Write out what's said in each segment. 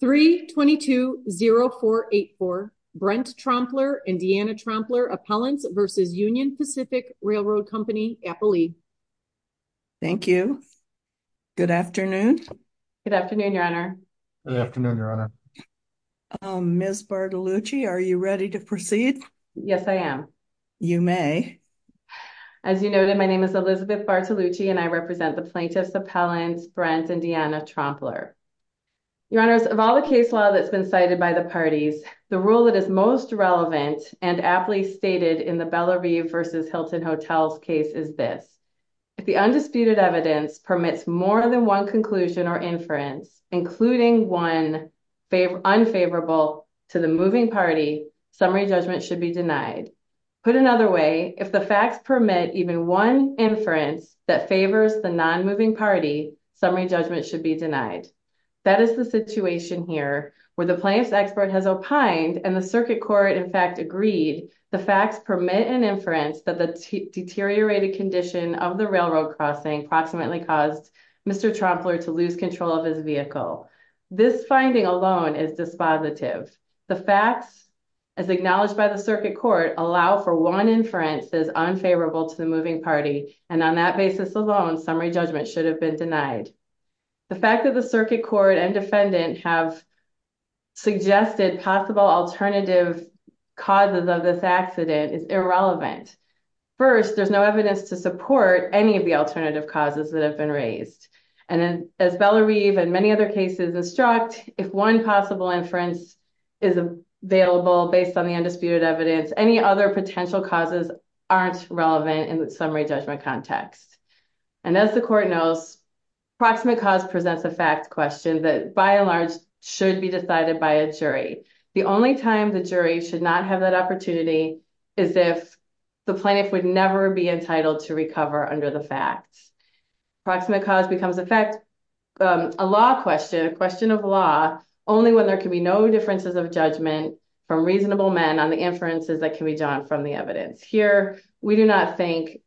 Thank you. Good afternoon. Good afternoon, Your Honor. Good afternoon, Your Honor. Ms. Bartolucci, are you ready to proceed? Yes, I am. You may. As you noted, my name is Elizabeth Bartolucci and I represent the plaintiffs' appellants, Brent and Deanna Trompler. Your Honors, of all the case law that's been cited by the parties, the rule that is most relevant and aptly stated in the Bellevue v. Hilton Hotels case is this. If the undisputed evidence permits more than one conclusion or inference, including one unfavorable to the moving party, summary judgment should be denied. Put another way, if the facts permit even one inference that favors the non-moving party, summary judgment should be denied. That is the situation here where the plaintiff's expert has opined and the circuit court in fact agreed the facts permit an inference that the deteriorated condition of the railroad crossing approximately caused Mr. Trompler to lose control of his vehicle. This finding alone is dispositive. The facts, as acknowledged by the circuit court, allow for one inference that is unfavorable to the moving party and on that basis alone, summary judgment should have been denied. The fact that the circuit court and defendant have suggested possible alternative causes of this accident is irrelevant. First, there's no evidence to support any of the alternative causes that have been raised and as Bellevue and many other cases instruct, if one possible inference is available based on the undisputed evidence, any other potential causes aren't relevant in the summary judgment context. And as the court knows, proximate cause presents a fact question that by and large should be decided by a jury. The only time the jury should not have that opportunity is if the plaintiff would never be entitled to recover under the facts. Proximate cause becomes in fact a law question, a question of law, only when there can be no differences of judgment from reasonable men on the inferences that can be drawn from the evidence. Here, we do not think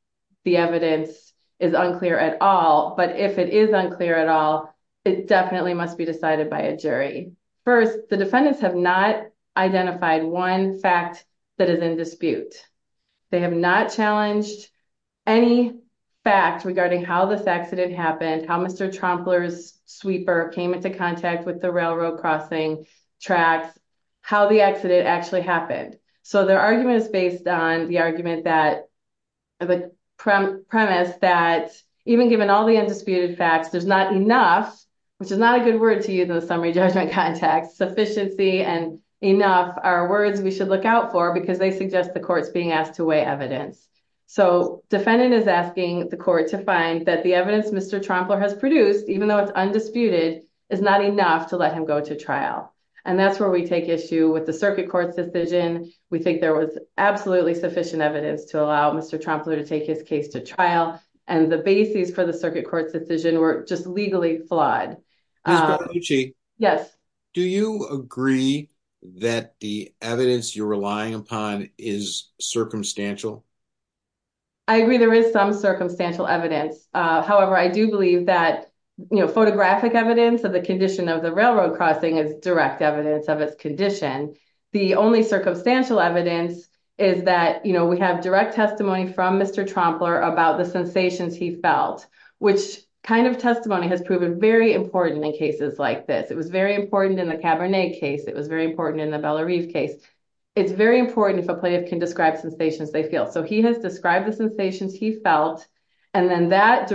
the evidence is unclear at all, but if it is unclear at all, it definitely must be decided by a jury. First, the defendants have not identified one fact that is in dispute. They have not challenged any fact regarding how this accident happened, how Mr. Trompler's sweeper came into contact with the railroad crossing tracks, how the accident actually happened. So their argument is based on the premise that even given all the undisputed facts, there's not enough, which is not a good word to use in the summary judgment context, sufficiency and enough are words we should look out for because they suggest the court's being asked to weigh evidence. So defendant is asking the court to find that the evidence Mr. Trompler has produced, even though it's undisputed, is not enough to let him go to trial. And that's where we take issue with the circuit court's decision. We think there was absolutely sufficient evidence to allow Mr. Trompler to take his case to trial and the bases for the circuit court's decision were just legally flawed. Yes. Do you agree that the evidence you're relying upon is circumstantial? I agree there is some circumstantial evidence. However, I do believe that photographic evidence of the condition of the railroad crossing is direct evidence of its condition. The only circumstantial evidence is that, you know, we have direct testimony from Mr. Trompler about the sensations he felt, which kind of testimony has proven very important in cases like this. It was very important in the Cabernet case. It was very important in the Belarive case. It's very important if a plaintiff can describe sensations they feel. So he has described the sensations he felt applied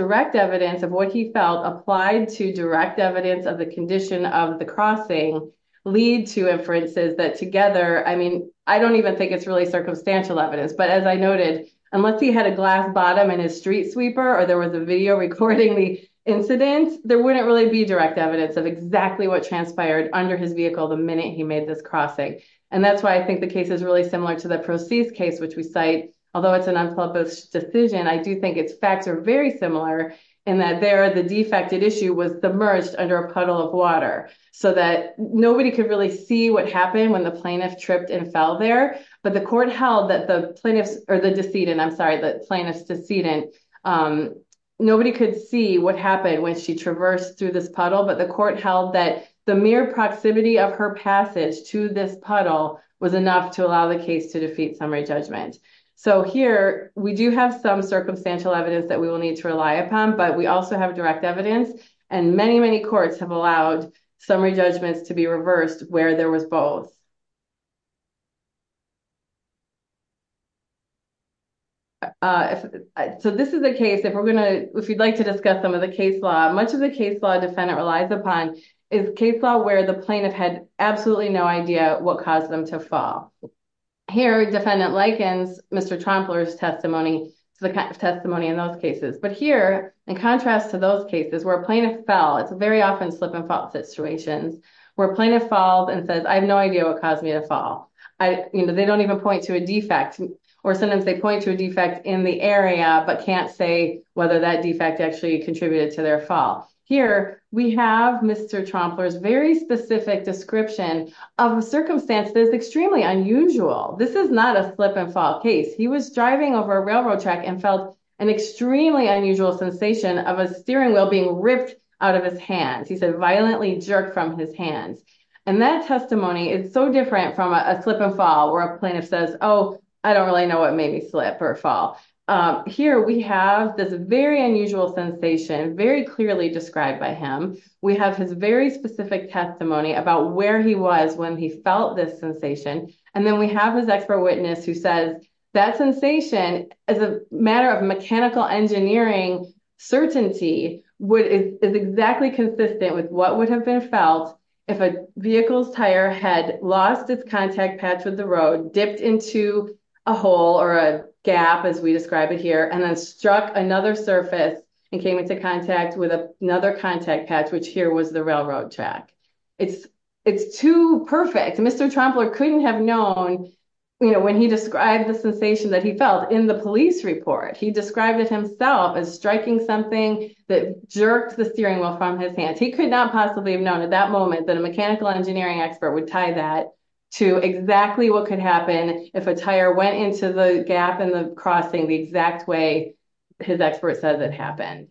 to direct evidence of the condition of the crossing lead to inferences that together, I mean, I don't even think it's really circumstantial evidence. But as I noted, unless he had a glass bottom in his street sweeper or there was a video recording the incident, there wouldn't really be direct evidence of exactly what transpired under his vehicle the minute he made this crossing. And that's why I think the case is really similar to the Procease case, which we cite, although it's an unpublished decision, I do think its facts are very similar in that there the defected issue was submerged under a puddle of water so that nobody could really see what happened when the plaintiff tripped and fell there. But the court held that the plaintiff's or the decedent, I'm sorry, the plaintiff's decedent, nobody could see what happened when she traversed through this puddle. But the court held that the mere proximity of her passage to this puddle was enough to allow the case to defeat summary judgment. So here we do have some circumstantial evidence that we will need to rely upon, but we also have direct evidence and many, many courts have allowed summary judgments to be reversed where there was both. So this is a case, if you'd like to discuss some of the case law, much of the case law defendant relies upon is case law where the plaintiff had absolutely no idea what caused them to fall. Here defendant likens Mr. Trompler's testimony to the testimony in those cases. But here in contrast to those cases where a plaintiff fell, it's very often slip and fall situations where plaintiff falls and says, I have no idea what caused me to fall. They don't even point to a defect or sometimes they point to a defect in the area but can't say whether that defect actually contributed to their fall. Here we have Mr. Trompler's very specific description of a circumstance that is extremely unusual. This is not a slip and fall case. He was driving over a railroad track and felt an extremely unusual sensation of a steering wheel being ripped out of his hands. He said violently jerked from his hands and that testimony is so different from a slip and fall where a plaintiff says, oh I don't really know what made me slip or fall. Here we have this very unusual sensation very clearly described by him. We have his very specific testimony about where he was when he felt this sensation and then we have his expert witness who says that sensation as a matter of mechanical engineering certainty is exactly consistent with what would have been felt if a vehicle's tire had lost its contact patch with the road, dipped into a hole or a gap as we describe it here, and then struck another surface and came into contact with another contact patch which here was the railroad track. It's too perfect. Mr. Trompler couldn't have known when he described the sensation that he felt in the police report. He described it himself as striking something that jerked the steering wheel from his hands. He could not possibly have known at that moment that a mechanical engineering expert would tie that to exactly what could happen if a tire went into the gap in the crossing the exact way his expert says it happened.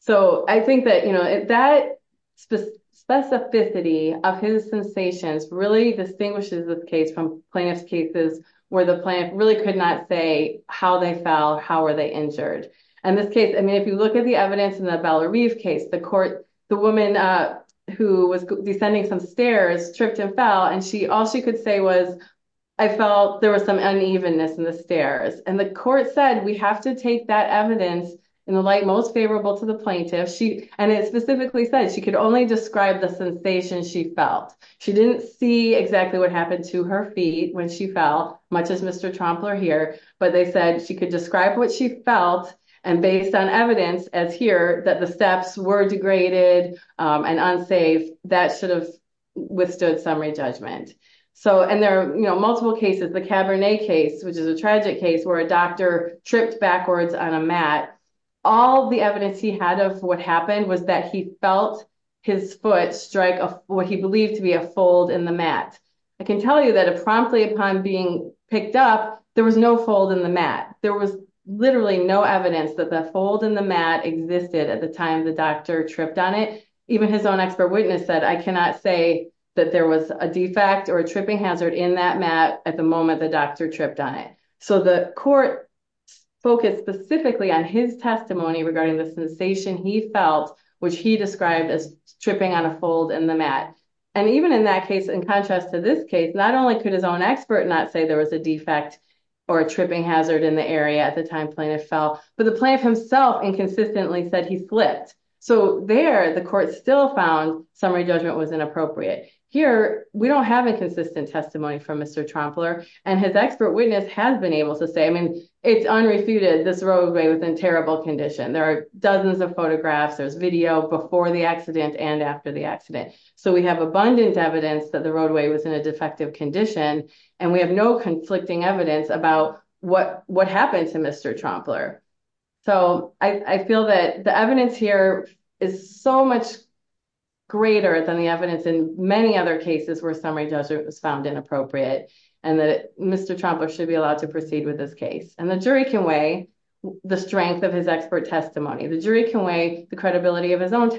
So I think that you know that specificity of his sensations really distinguishes this case from plaintiff's cases where the plaintiff really could not say how they fell, how were they injured. In this case, I mean if you look at the evidence in the Valeriev case, the court, the woman who was descending some stairs tripped and fell and all she could say was I felt there was some unevenness in the stairs and the court said we have to take that evidence in the light most favorable to the plaintiff. And it specifically said she could only describe the sensation she felt. She didn't see exactly what happened to her feet when she fell, much as Mr. Trompler here, but they said she could describe what she felt and based on evidence as here that the steps were degraded and unsafe, that should have withstood summary judgment. So and there are you know multiple cases. The Cabernet case, which is a tragic case where a doctor tripped backwards on a mat. All the evidence he had of what happened was that he felt his foot strike what he believed to be a fold in the mat. I can tell you that promptly upon being picked up, there was no fold in the mat. There was literally no evidence that the fold in the mat existed at the time the doctor tripped on it. Even his own expert witness said I cannot say that there was a defect or a tripping hazard in that mat at the moment the doctor tripped on it. So the court focused specifically on his testimony regarding the sensation he felt, which he described as tripping on a fold in the mat. And even in that case, in contrast to this case, not only could his own expert not say there was a in the area at the time plaintiff fell, but the plaintiff himself inconsistently said he slipped. So there the court still found summary judgment was inappropriate. Here we don't have a consistent testimony from Mr. Trompler and his expert witness has been able to say I mean it's unrefuted this roadway was in terrible condition. There are dozens of photographs, there's video before the accident and after the accident. So we have abundant evidence that the roadway was in a defective and we have no conflicting evidence about what happened to Mr. Trompler. So I feel that the evidence here is so much greater than the evidence in many other cases where summary judgment was found inappropriate and that Mr. Trompler should be allowed to proceed with this case. And the jury can weigh the strength of his expert testimony. The jury can weigh the credibility of his own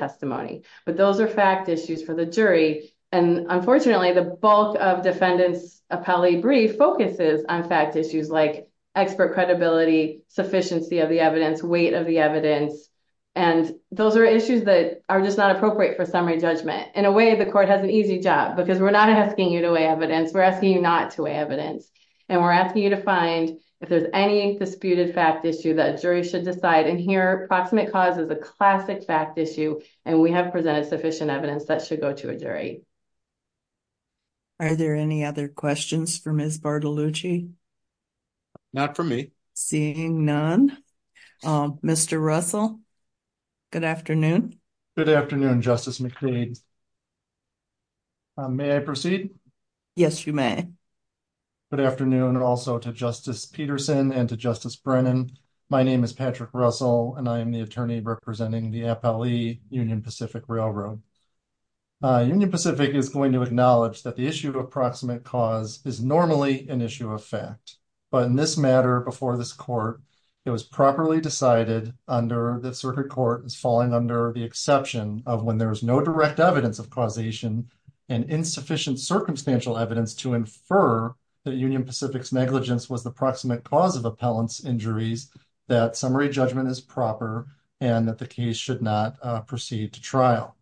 appellee brief focuses on fact issues like expert credibility, sufficiency of the evidence, weight of the evidence. And those are issues that are just not appropriate for summary judgment. In a way the court has an easy job because we're not asking you to weigh evidence, we're asking you not to weigh evidence. And we're asking you to find if there's any disputed fact issue that jury should decide. And here proximate cause is a classic fact issue and we have presented sufficient evidence that should go to a jury. Are there any other questions for Ms. Bartolucci? Not for me. Seeing none. Mr. Russell, good afternoon. Good afternoon Justice McLean. May I proceed? Yes you may. Good afternoon also to Justice Peterson and to Justice Brennan. My name is Patrick Russell and the attorney representing the appellee Union Pacific Railroad. Union Pacific is going to acknowledge that the issue of proximate cause is normally an issue of fact. But in this matter before this court it was properly decided under the circuit court is falling under the exception of when there is no direct evidence of causation and insufficient circumstantial evidence to infer that Union Pacific's negligence was the proximate cause of appellant's injuries that summary judgment is proper and that the case should not proceed to trial.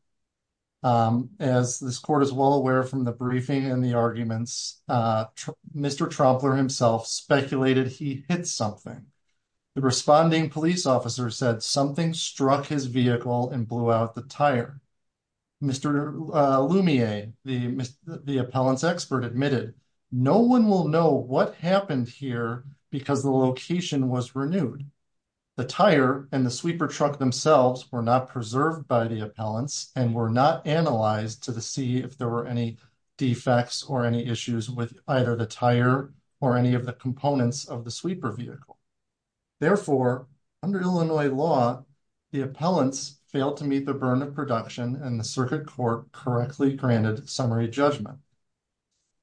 As this court is well aware from the briefing and the arguments, Mr. Trompler himself speculated he hit something. The responding police officer said something struck his vehicle and blew out the tire. Mr. Lumiere, the appellant's expert admitted no one will know what happened here because the the tire and the sweeper truck themselves were not preserved by the appellants and were not analyzed to see if there were any defects or any issues with either the tire or any of the components of the sweeper vehicle. Therefore under Illinois law the appellants failed to meet the burden of production and the circuit court correctly granted summary judgment.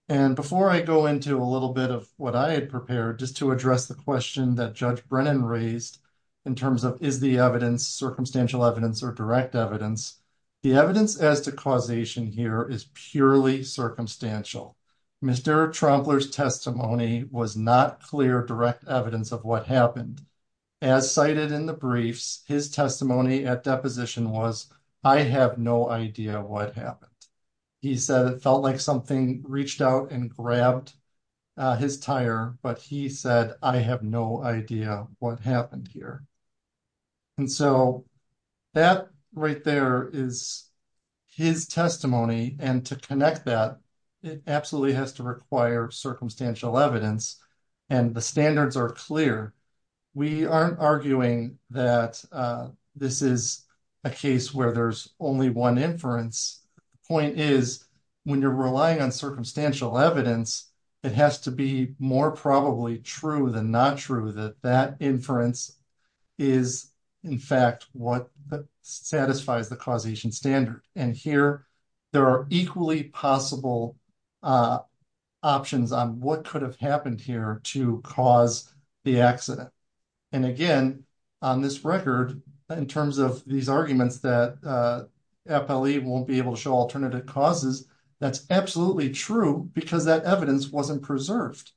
And before I go into a little bit of what I had prepared just to address the question that Judge Brennan raised in terms of is the evidence circumstantial evidence or direct evidence, the evidence as to causation here is purely circumstantial. Mr. Trompler's testimony was not clear direct evidence of what happened. As cited in the briefs his testimony at deposition was I have no idea what happened. He said it felt like something reached out and grabbed his tire but he said I have no idea what happened here. And so that right there is his testimony and to connect that it absolutely has to require circumstantial evidence and the standards are clear. We aren't arguing that this is a case where there's only one inference. The point is when you're relying on circumstantial evidence it has to be more probably true than not true that that inference is in fact what satisfies the causation standard. And here there are equally possible options on what could have happened here to cause the accident. And again on this record in terms of these arguments that FLE won't be able to show alternative causes, that's absolutely true because that evidence wasn't preserved.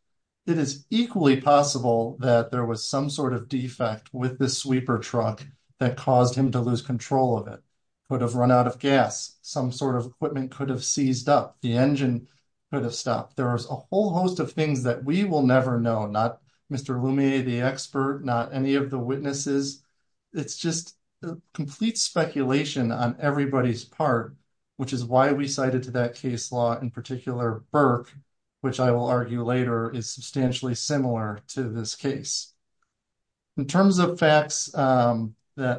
It is equally possible that there was some sort of defect with this sweeper truck that caused him to lose control of it, could have run out of gas, some sort of equipment could have seized up, the engine could have stopped. There is a whole host of things that we will never know, not Mr. Lumier, the expert, not any of the witnesses. It's just complete speculation on everybody's part which is why we cited to that case law in particular Burke which I will argue later is substantially similar to this case. In terms of facts that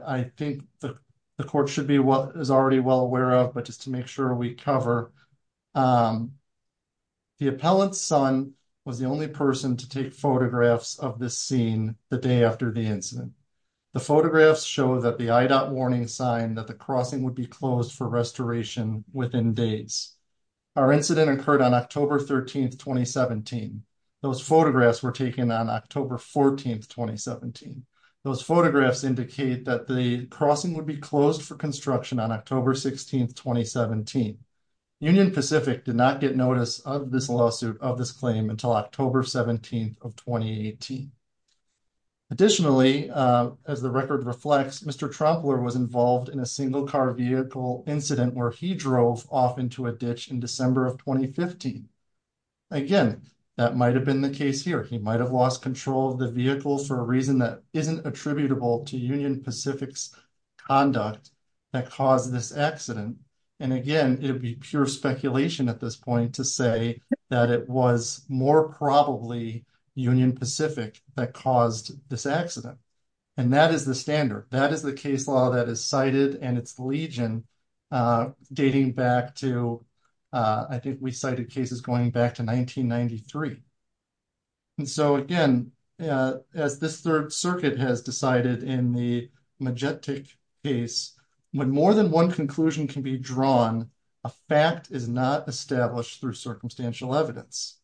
I think the court should be what is already well aware of but just to make sure we cover, the appellant's son was the only person to seen the day after the incident. The photographs show that the IDOT warning sign that the crossing would be closed for restoration within days. Our incident occurred on October 13, 2017. Those photographs were taken on October 14, 2017. Those photographs indicate that the crossing would be closed for construction on October 16, 2017. Union Pacific did not get notice of this lawsuit until October 17, 2018. Additionally, as the record reflects, Mr. Trumpler was involved in a single-car vehicle incident where he drove off into a ditch in December of 2015. Again, that might have been the case here. He might have lost control of the vehicle for a reason that isn't attributable to Union Pacific's conduct that caused this accident. Again, it would be pure more probably Union Pacific that caused this accident. That is the standard. That is the case law that is cited and its legion dating back to, I think we cited cases going back to 1993. Again, as this Third Circuit has decided in the Majetic case, when more than one conclusion can be drawn, a fact is not established through circumstantial evidence.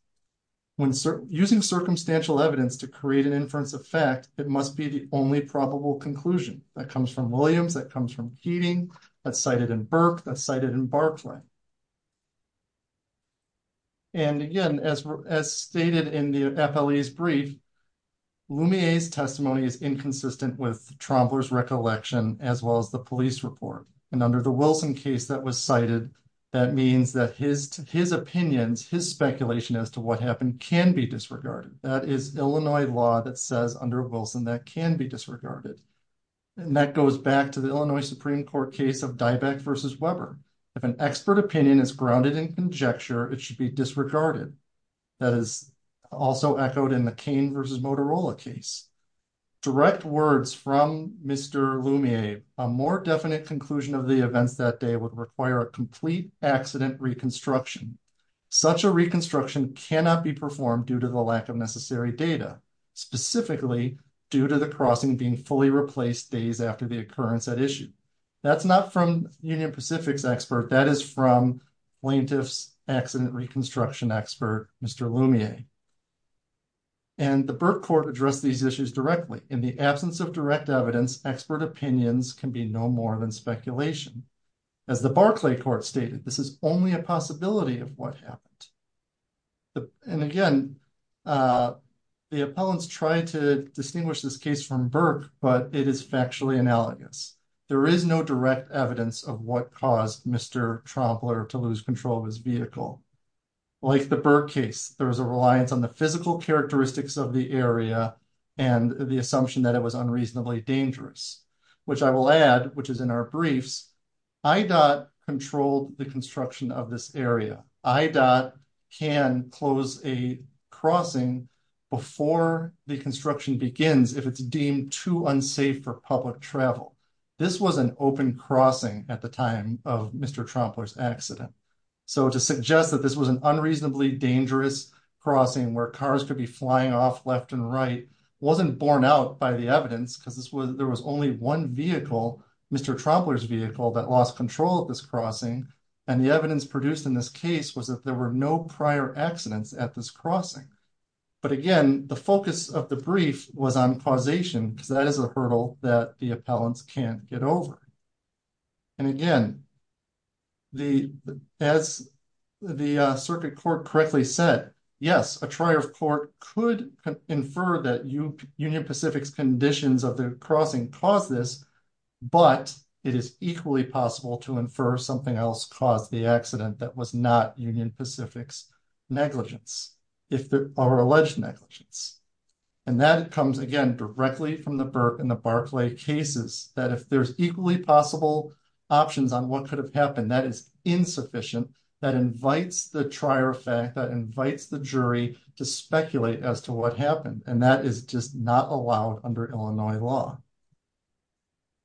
Using circumstantial evidence to create an inference of fact, it must be the only probable conclusion. That comes from Williams. That comes from Heating. That's cited in Burke. That's cited in Barclay. Again, as stated in the FLE's brief, Lumiere's testimony is inconsistent with Trumpler's recollection as well as the police report. Under the Wilson case that was cited, that means that his opinions, his speculation as to what happened can be disregarded. That is Illinois law that says under Wilson that can be disregarded. That goes back to the Illinois Supreme Court case of Dybeck v. Weber. If an expert opinion is grounded in conjecture, it should be disregarded. That is also echoed in McCain v. Motorola case. Direct words from Mr. Lumiere, a more definite conclusion of the events that day would require a complete accident reconstruction. Such a reconstruction cannot be performed due to the lack of necessary data, specifically due to the crossing being fully replaced days after the occurrence at issue. That's not from Union Pacific's expert. That is from plaintiff's reconstruction expert, Mr. Lumiere. The Burke court addressed these issues directly. In the absence of direct evidence, expert opinions can be no more than speculation. As the Barclay court stated, this is only a possibility of what happened. Again, the appellants tried to distinguish this case from Burke, but it is factually analogous. There is no direct evidence of what caused Mr. Trompler to lose control of his vehicle. Like the Burke case, there was a reliance on the physical characteristics of the area and the assumption that it was unreasonably dangerous, which I will add, which is in our briefs. IDOT controlled the construction of this area. IDOT can close a crossing before the construction begins if it's deemed too unsafe for public at the time of Mr. Trompler's accident. To suggest that this was an unreasonably dangerous crossing where cars could be flying off left and right wasn't borne out by the evidence, because there was only one vehicle, Mr. Trompler's vehicle, that lost control of this crossing. The evidence produced in this case was that there were no prior accidents at this crossing. Again, the focus of the brief was on causation, because that is a hurdle that the appellants can't get over. And again, as the circuit court correctly said, yes, a trier of court could infer that Union Pacific's conditions of the crossing caused this, but it is equally possible to infer something else caused the accident that was not Union Pacific's negligence, or alleged negligence. And that comes, again, directly from the Burke and the Barclay cases, that if there's equally possible options on what could have happened, that is insufficient. That invites the trier of fact, that invites the jury to speculate as to what happened, and that is just not allowed under Illinois law.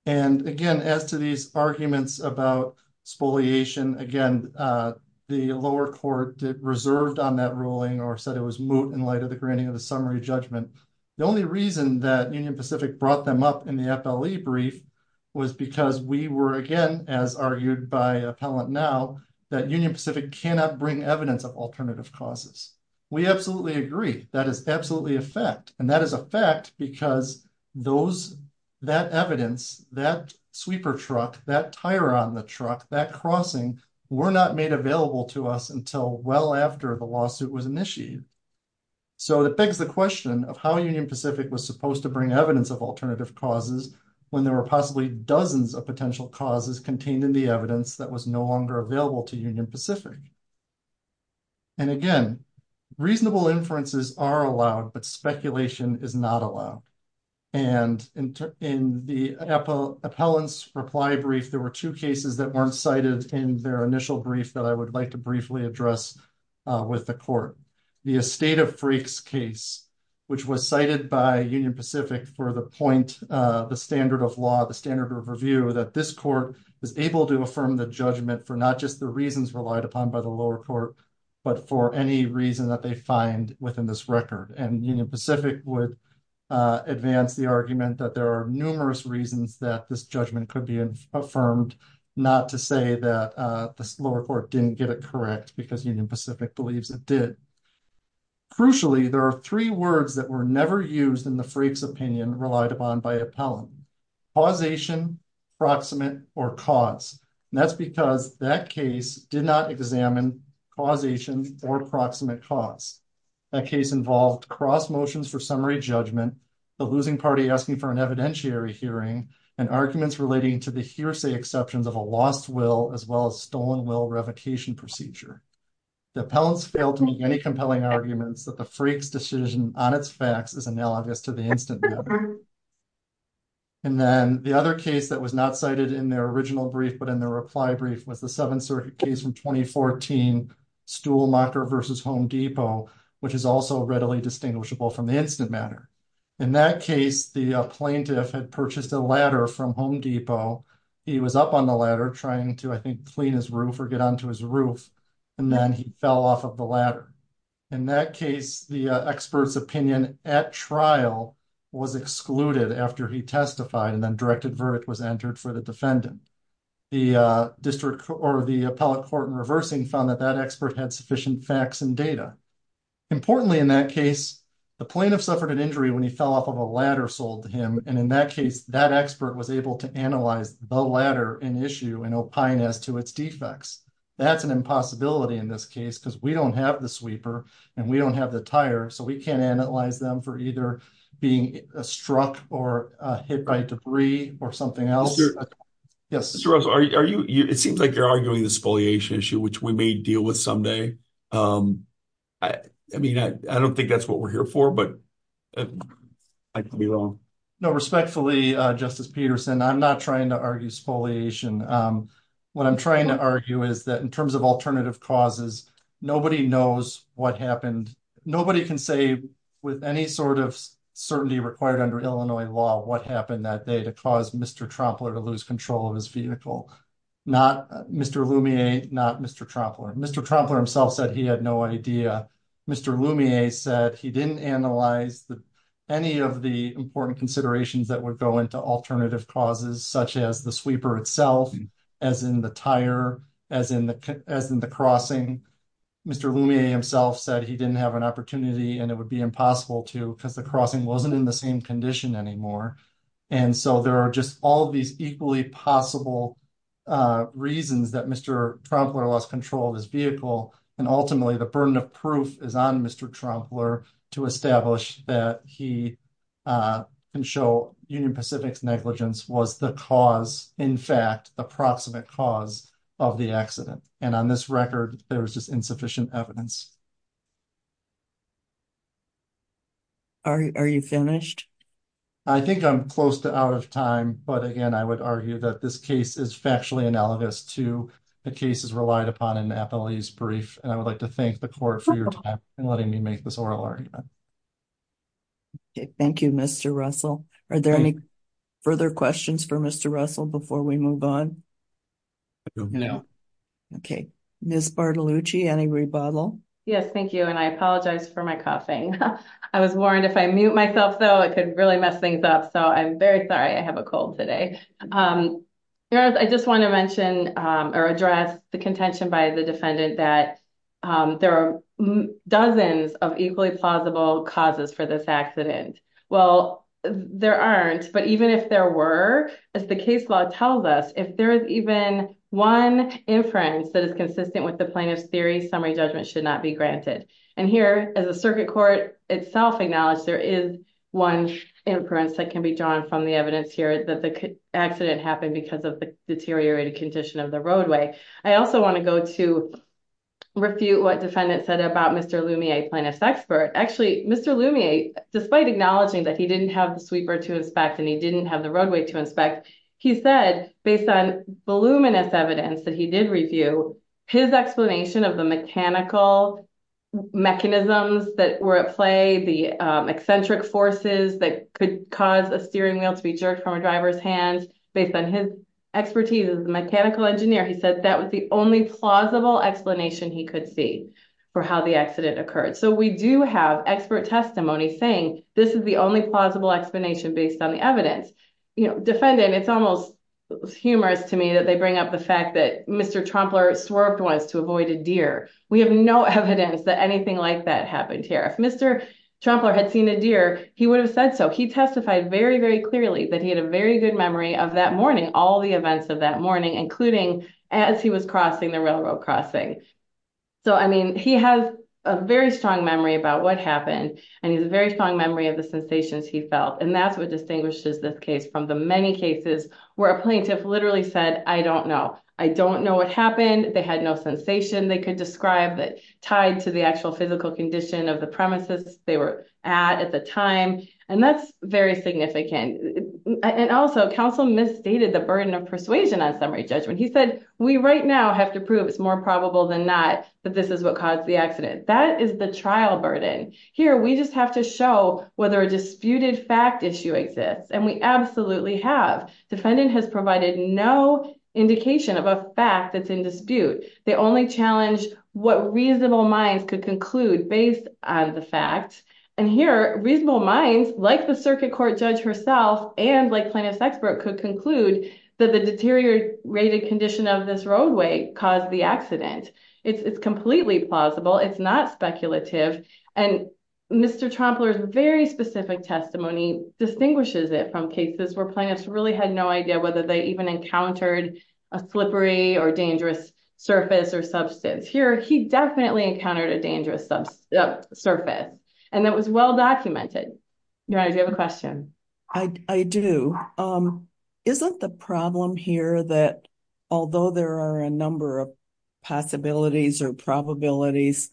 And again, as to these arguments about spoliation, again, the lower court reserved on that ruling or said it was moot in light of the granting of the summary judgment. The only reason that Union Pacific brought them up in the FLE brief was because we were, again, as argued by appellant now, that Union Pacific cannot bring evidence of alternative causes. We absolutely agree. That is absolutely a fact. And that is a fact because that evidence, that after the lawsuit was initiated. So that begs the question of how Union Pacific was supposed to bring evidence of alternative causes when there were possibly dozens of potential causes contained in the evidence that was no longer available to Union Pacific. And again, reasonable inferences are allowed, but speculation is not allowed. And in the appellant's reply brief, there were two cases that weren't cited in their initial brief that I would like to briefly address with the court. The Estate of Freaks case, which was cited by Union Pacific for the point, the standard of law, the standard of review, that this court was able to affirm the judgment for not just the reasons relied upon by the lower court, but for any reason that they find within this record. And Union Pacific would advance the argument that there are numerous reasons that this judgment could be affirmed, not to say that the lower court didn't get it correct because Union Pacific believes it did. Crucially, there are three words that were never used in the Freaks opinion relied upon by appellant, causation, proximate, or cause. And that's because that case did not examine causation or proximate cause. That case involved cross motions for summary judgment, the losing party asking for an evidentiary hearing, and arguments relating to hearsay exceptions of a lost will as well as stolen will revocation procedure. The appellants failed to make any compelling arguments that the Freaks decision on its facts is analogous to the instant matter. And then the other case that was not cited in their original brief, but in their reply brief, was the Seventh Circuit case from 2014, Stuhlmacher v. Home Depot, which is also readily distinguishable from the instant matter. In that case, the plaintiff had purchased a ladder from Home Depot. He was up on the ladder trying to, I think, clean his roof or get onto his roof. And then he fell off of the ladder. In that case, the expert's opinion at trial was excluded after he testified and then directed verdict was entered for the defendant. The district or the appellate court in reversing found that that expert had sufficient facts and data. Importantly, in that case, the plaintiff suffered an injury when he fell off of a ladder sold to him. And in that case, that expert was able to analyze the ladder in issue and opine as to its defects. That's an impossibility in this case because we don't have the sweeper and we don't have the tire, so we can't analyze them for either being struck or hit by debris or something else. Yes. Mr. Russell, are you, it seems like you're arguing the spoliation issue, which we may deal with someday. I mean, I don't think that's what we're here for, but I could be wrong. No, respectfully, Justice Peterson, I'm not trying to argue spoliation. What I'm trying to argue is that in terms of alternative causes, nobody knows what happened. Nobody can say with any sort of certainty required under Illinois law, what happened that day to cause Mr. Trompler to lose control of his vehicle. Not Mr. Lumiere, not Mr. Trompler. Mr. Trompler himself said he had no idea. Mr. Lumiere said he didn't analyze any of the important considerations that would go into alternative causes, such as the sweeper itself, as in the tire, as in the crossing. Mr. Lumiere himself said he didn't have an opportunity and it would be impossible to, because the crossing wasn't in the same condition anymore. And so there are just all these equally possible reasons that Mr. Trompler lost control of his vehicle. And ultimately the burden of proof is on Mr. Trompler to establish that he can show Union Pacific's negligence was the cause, in fact, the proximate cause of the accident. And on this record, there's just insufficient evidence. Are you finished? I think I'm close to out of time, but again, I would argue that this case is factually analogous to the cases relied upon in Nathalie's brief. And I would like to thank the court for your time and letting me make this oral argument. Thank you, Mr. Russell. Are there any further questions for Mr. Russell before we move on? No. Okay. Ms. Bartolucci, any rebuttal? Yes, thank you. And I apologize for my coughing. I was warned if I mute myself, though, it could really mess things up. So I'm very sorry. I have a cold today. I just want to mention or address the contention by the defendant that there are dozens of equally plausible causes for this accident. Well, there aren't, but even if there were, as the case law tells us, if there is even one inference that is consistent with the plaintiff's theory, summary judgment should not be granted. And here, as the circuit court itself acknowledged, there is one inference that can be drawn from the evidence here that the accident happened because of the deteriorated condition of the roadway. I also want to go to refute what defendant said about Mr. Lumier, plaintiff's expert. Actually, Mr. Lumier, despite acknowledging that he didn't have the sweeper to inspect and he didn't have the roadway to inspect, he said, based on voluminous evidence that he did review, his explanation of the mechanical mechanisms that were at play, the eccentric forces that could cause a steering wheel to be jerked from a driver's hands, based on his expertise as a mechanical engineer, he said that was the only plausible explanation he could see for how the accident occurred. So we do have expert testimony saying this is the only plausible explanation based on the evidence. Defendant, it's almost humorous to me that they bring up the fact that Mr. Trumpler swerved once to avoid a deer. We have no evidence that anything like that happened here. If Mr. Trumpler had seen a deer, he would have said so. He testified very, very clearly that he had a very good memory of that morning, all the events of that morning, including as he was crossing the railroad crossing. So, I mean, he has a very strong memory about what happened and he has a very strong memory of the sensations he felt. And that's what distinguishes this case from the many cases where a plaintiff literally said, I don't know. I don't know what happened. They had no sensation they could describe that tied to the actual physical condition of the premises they were at at the time. And that's very significant. And also, counsel misstated the burden of persuasion on summary judgment. He said, we right now have to prove it's more probable than not that this is what caused the accident. That is the trial burden. Here, we just have to show whether a disputed fact issue exists. And we absolutely have. Defendant has provided no indication of a fact that's in dispute. They only challenged what reasonable minds could conclude based on the fact. And here, reasonable minds like the circuit court judge herself and like plaintiff's expert could conclude that the deteriorated condition of this roadway caused the accident. It's completely plausible. It's not speculative. And Mr. Trompler's very specific testimony distinguishes it from cases where plaintiffs really had no idea whether they even encountered a slippery or dangerous surface or substance. Here, he definitely encountered a dangerous surface. And that was well documented. Your Honor, do you have a question? I do. Isn't the problem here that although there are a number of possibilities or probabilities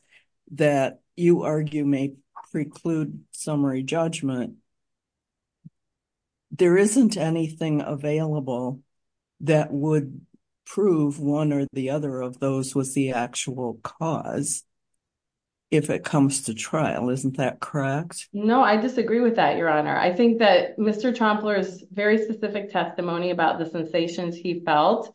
that you argue may preclude summary judgment, there isn't anything available that would prove one or the other of those was the actual cause if it comes to trial. Isn't that correct? No, I disagree with that, Your Honor. I agree with that. I agree with what Mr. Trompler said. I agree with what he felt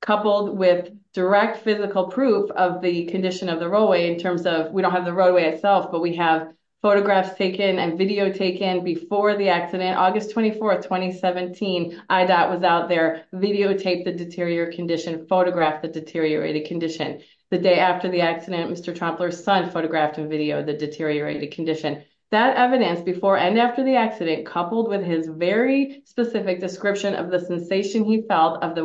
coupled with direct physical proof of the condition of the roadway in terms of we don't have the roadway itself, but we have photographs taken and video taken before the accident. August 24th, 2017, IDOT was out there, videotaped the deteriorated condition, photographed the deteriorated condition. The day after the accident, Mr. Trompler's son photographed and videoed the deteriorated condition. That evidence before and after the accident coupled with his very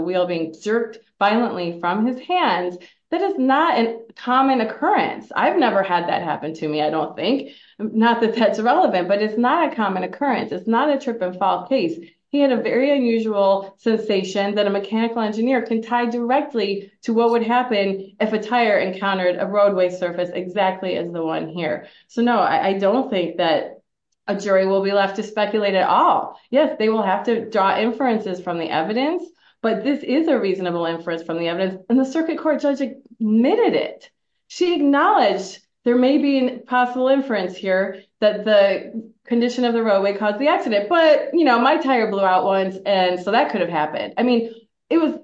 wheel being jerked violently from his hands, that is not a common occurrence. I've never had that happen to me, I don't think. Not that that's relevant, but it's not a common occurrence. It's not a trip and fall case. He had a very unusual sensation that a mechanical engineer can tie directly to what would happen if a tire encountered a roadway surface exactly as the one here. So no, I don't think that a jury will be left to speculate at all. Yes, they will have to inferences from the evidence, but this is a reasonable inference from the evidence, and the circuit court judge admitted it. She acknowledged there may be a possible inference here that the condition of the roadway caused the accident, but my tire blew out once, and so that could have happened. I mean, it was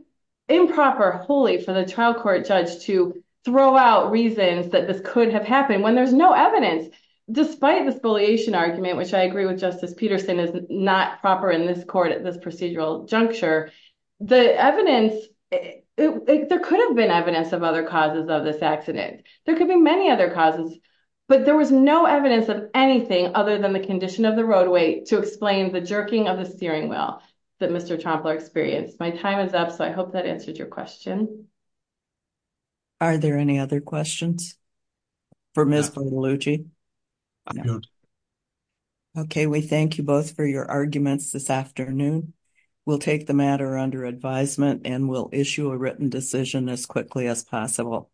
improper, holy for the trial court judge to throw out reasons that this could have happened when there's no evidence, despite the spoliation argument, which I agree with Justice Peterson is not proper in this court at this procedural juncture. The evidence, there could have been evidence of other causes of this accident. There could be many other causes, but there was no evidence of anything other than the condition of the roadway to explain the jerking of the steering wheel that Mr. Trompler experienced. My time is up, so I hope that answered your question. Are there any other questions for Ms. Poliglucci? No. Okay, we thank you both for your arguments this afternoon. We'll take the matter under advisement, and we'll issue a written decision as quickly as possible.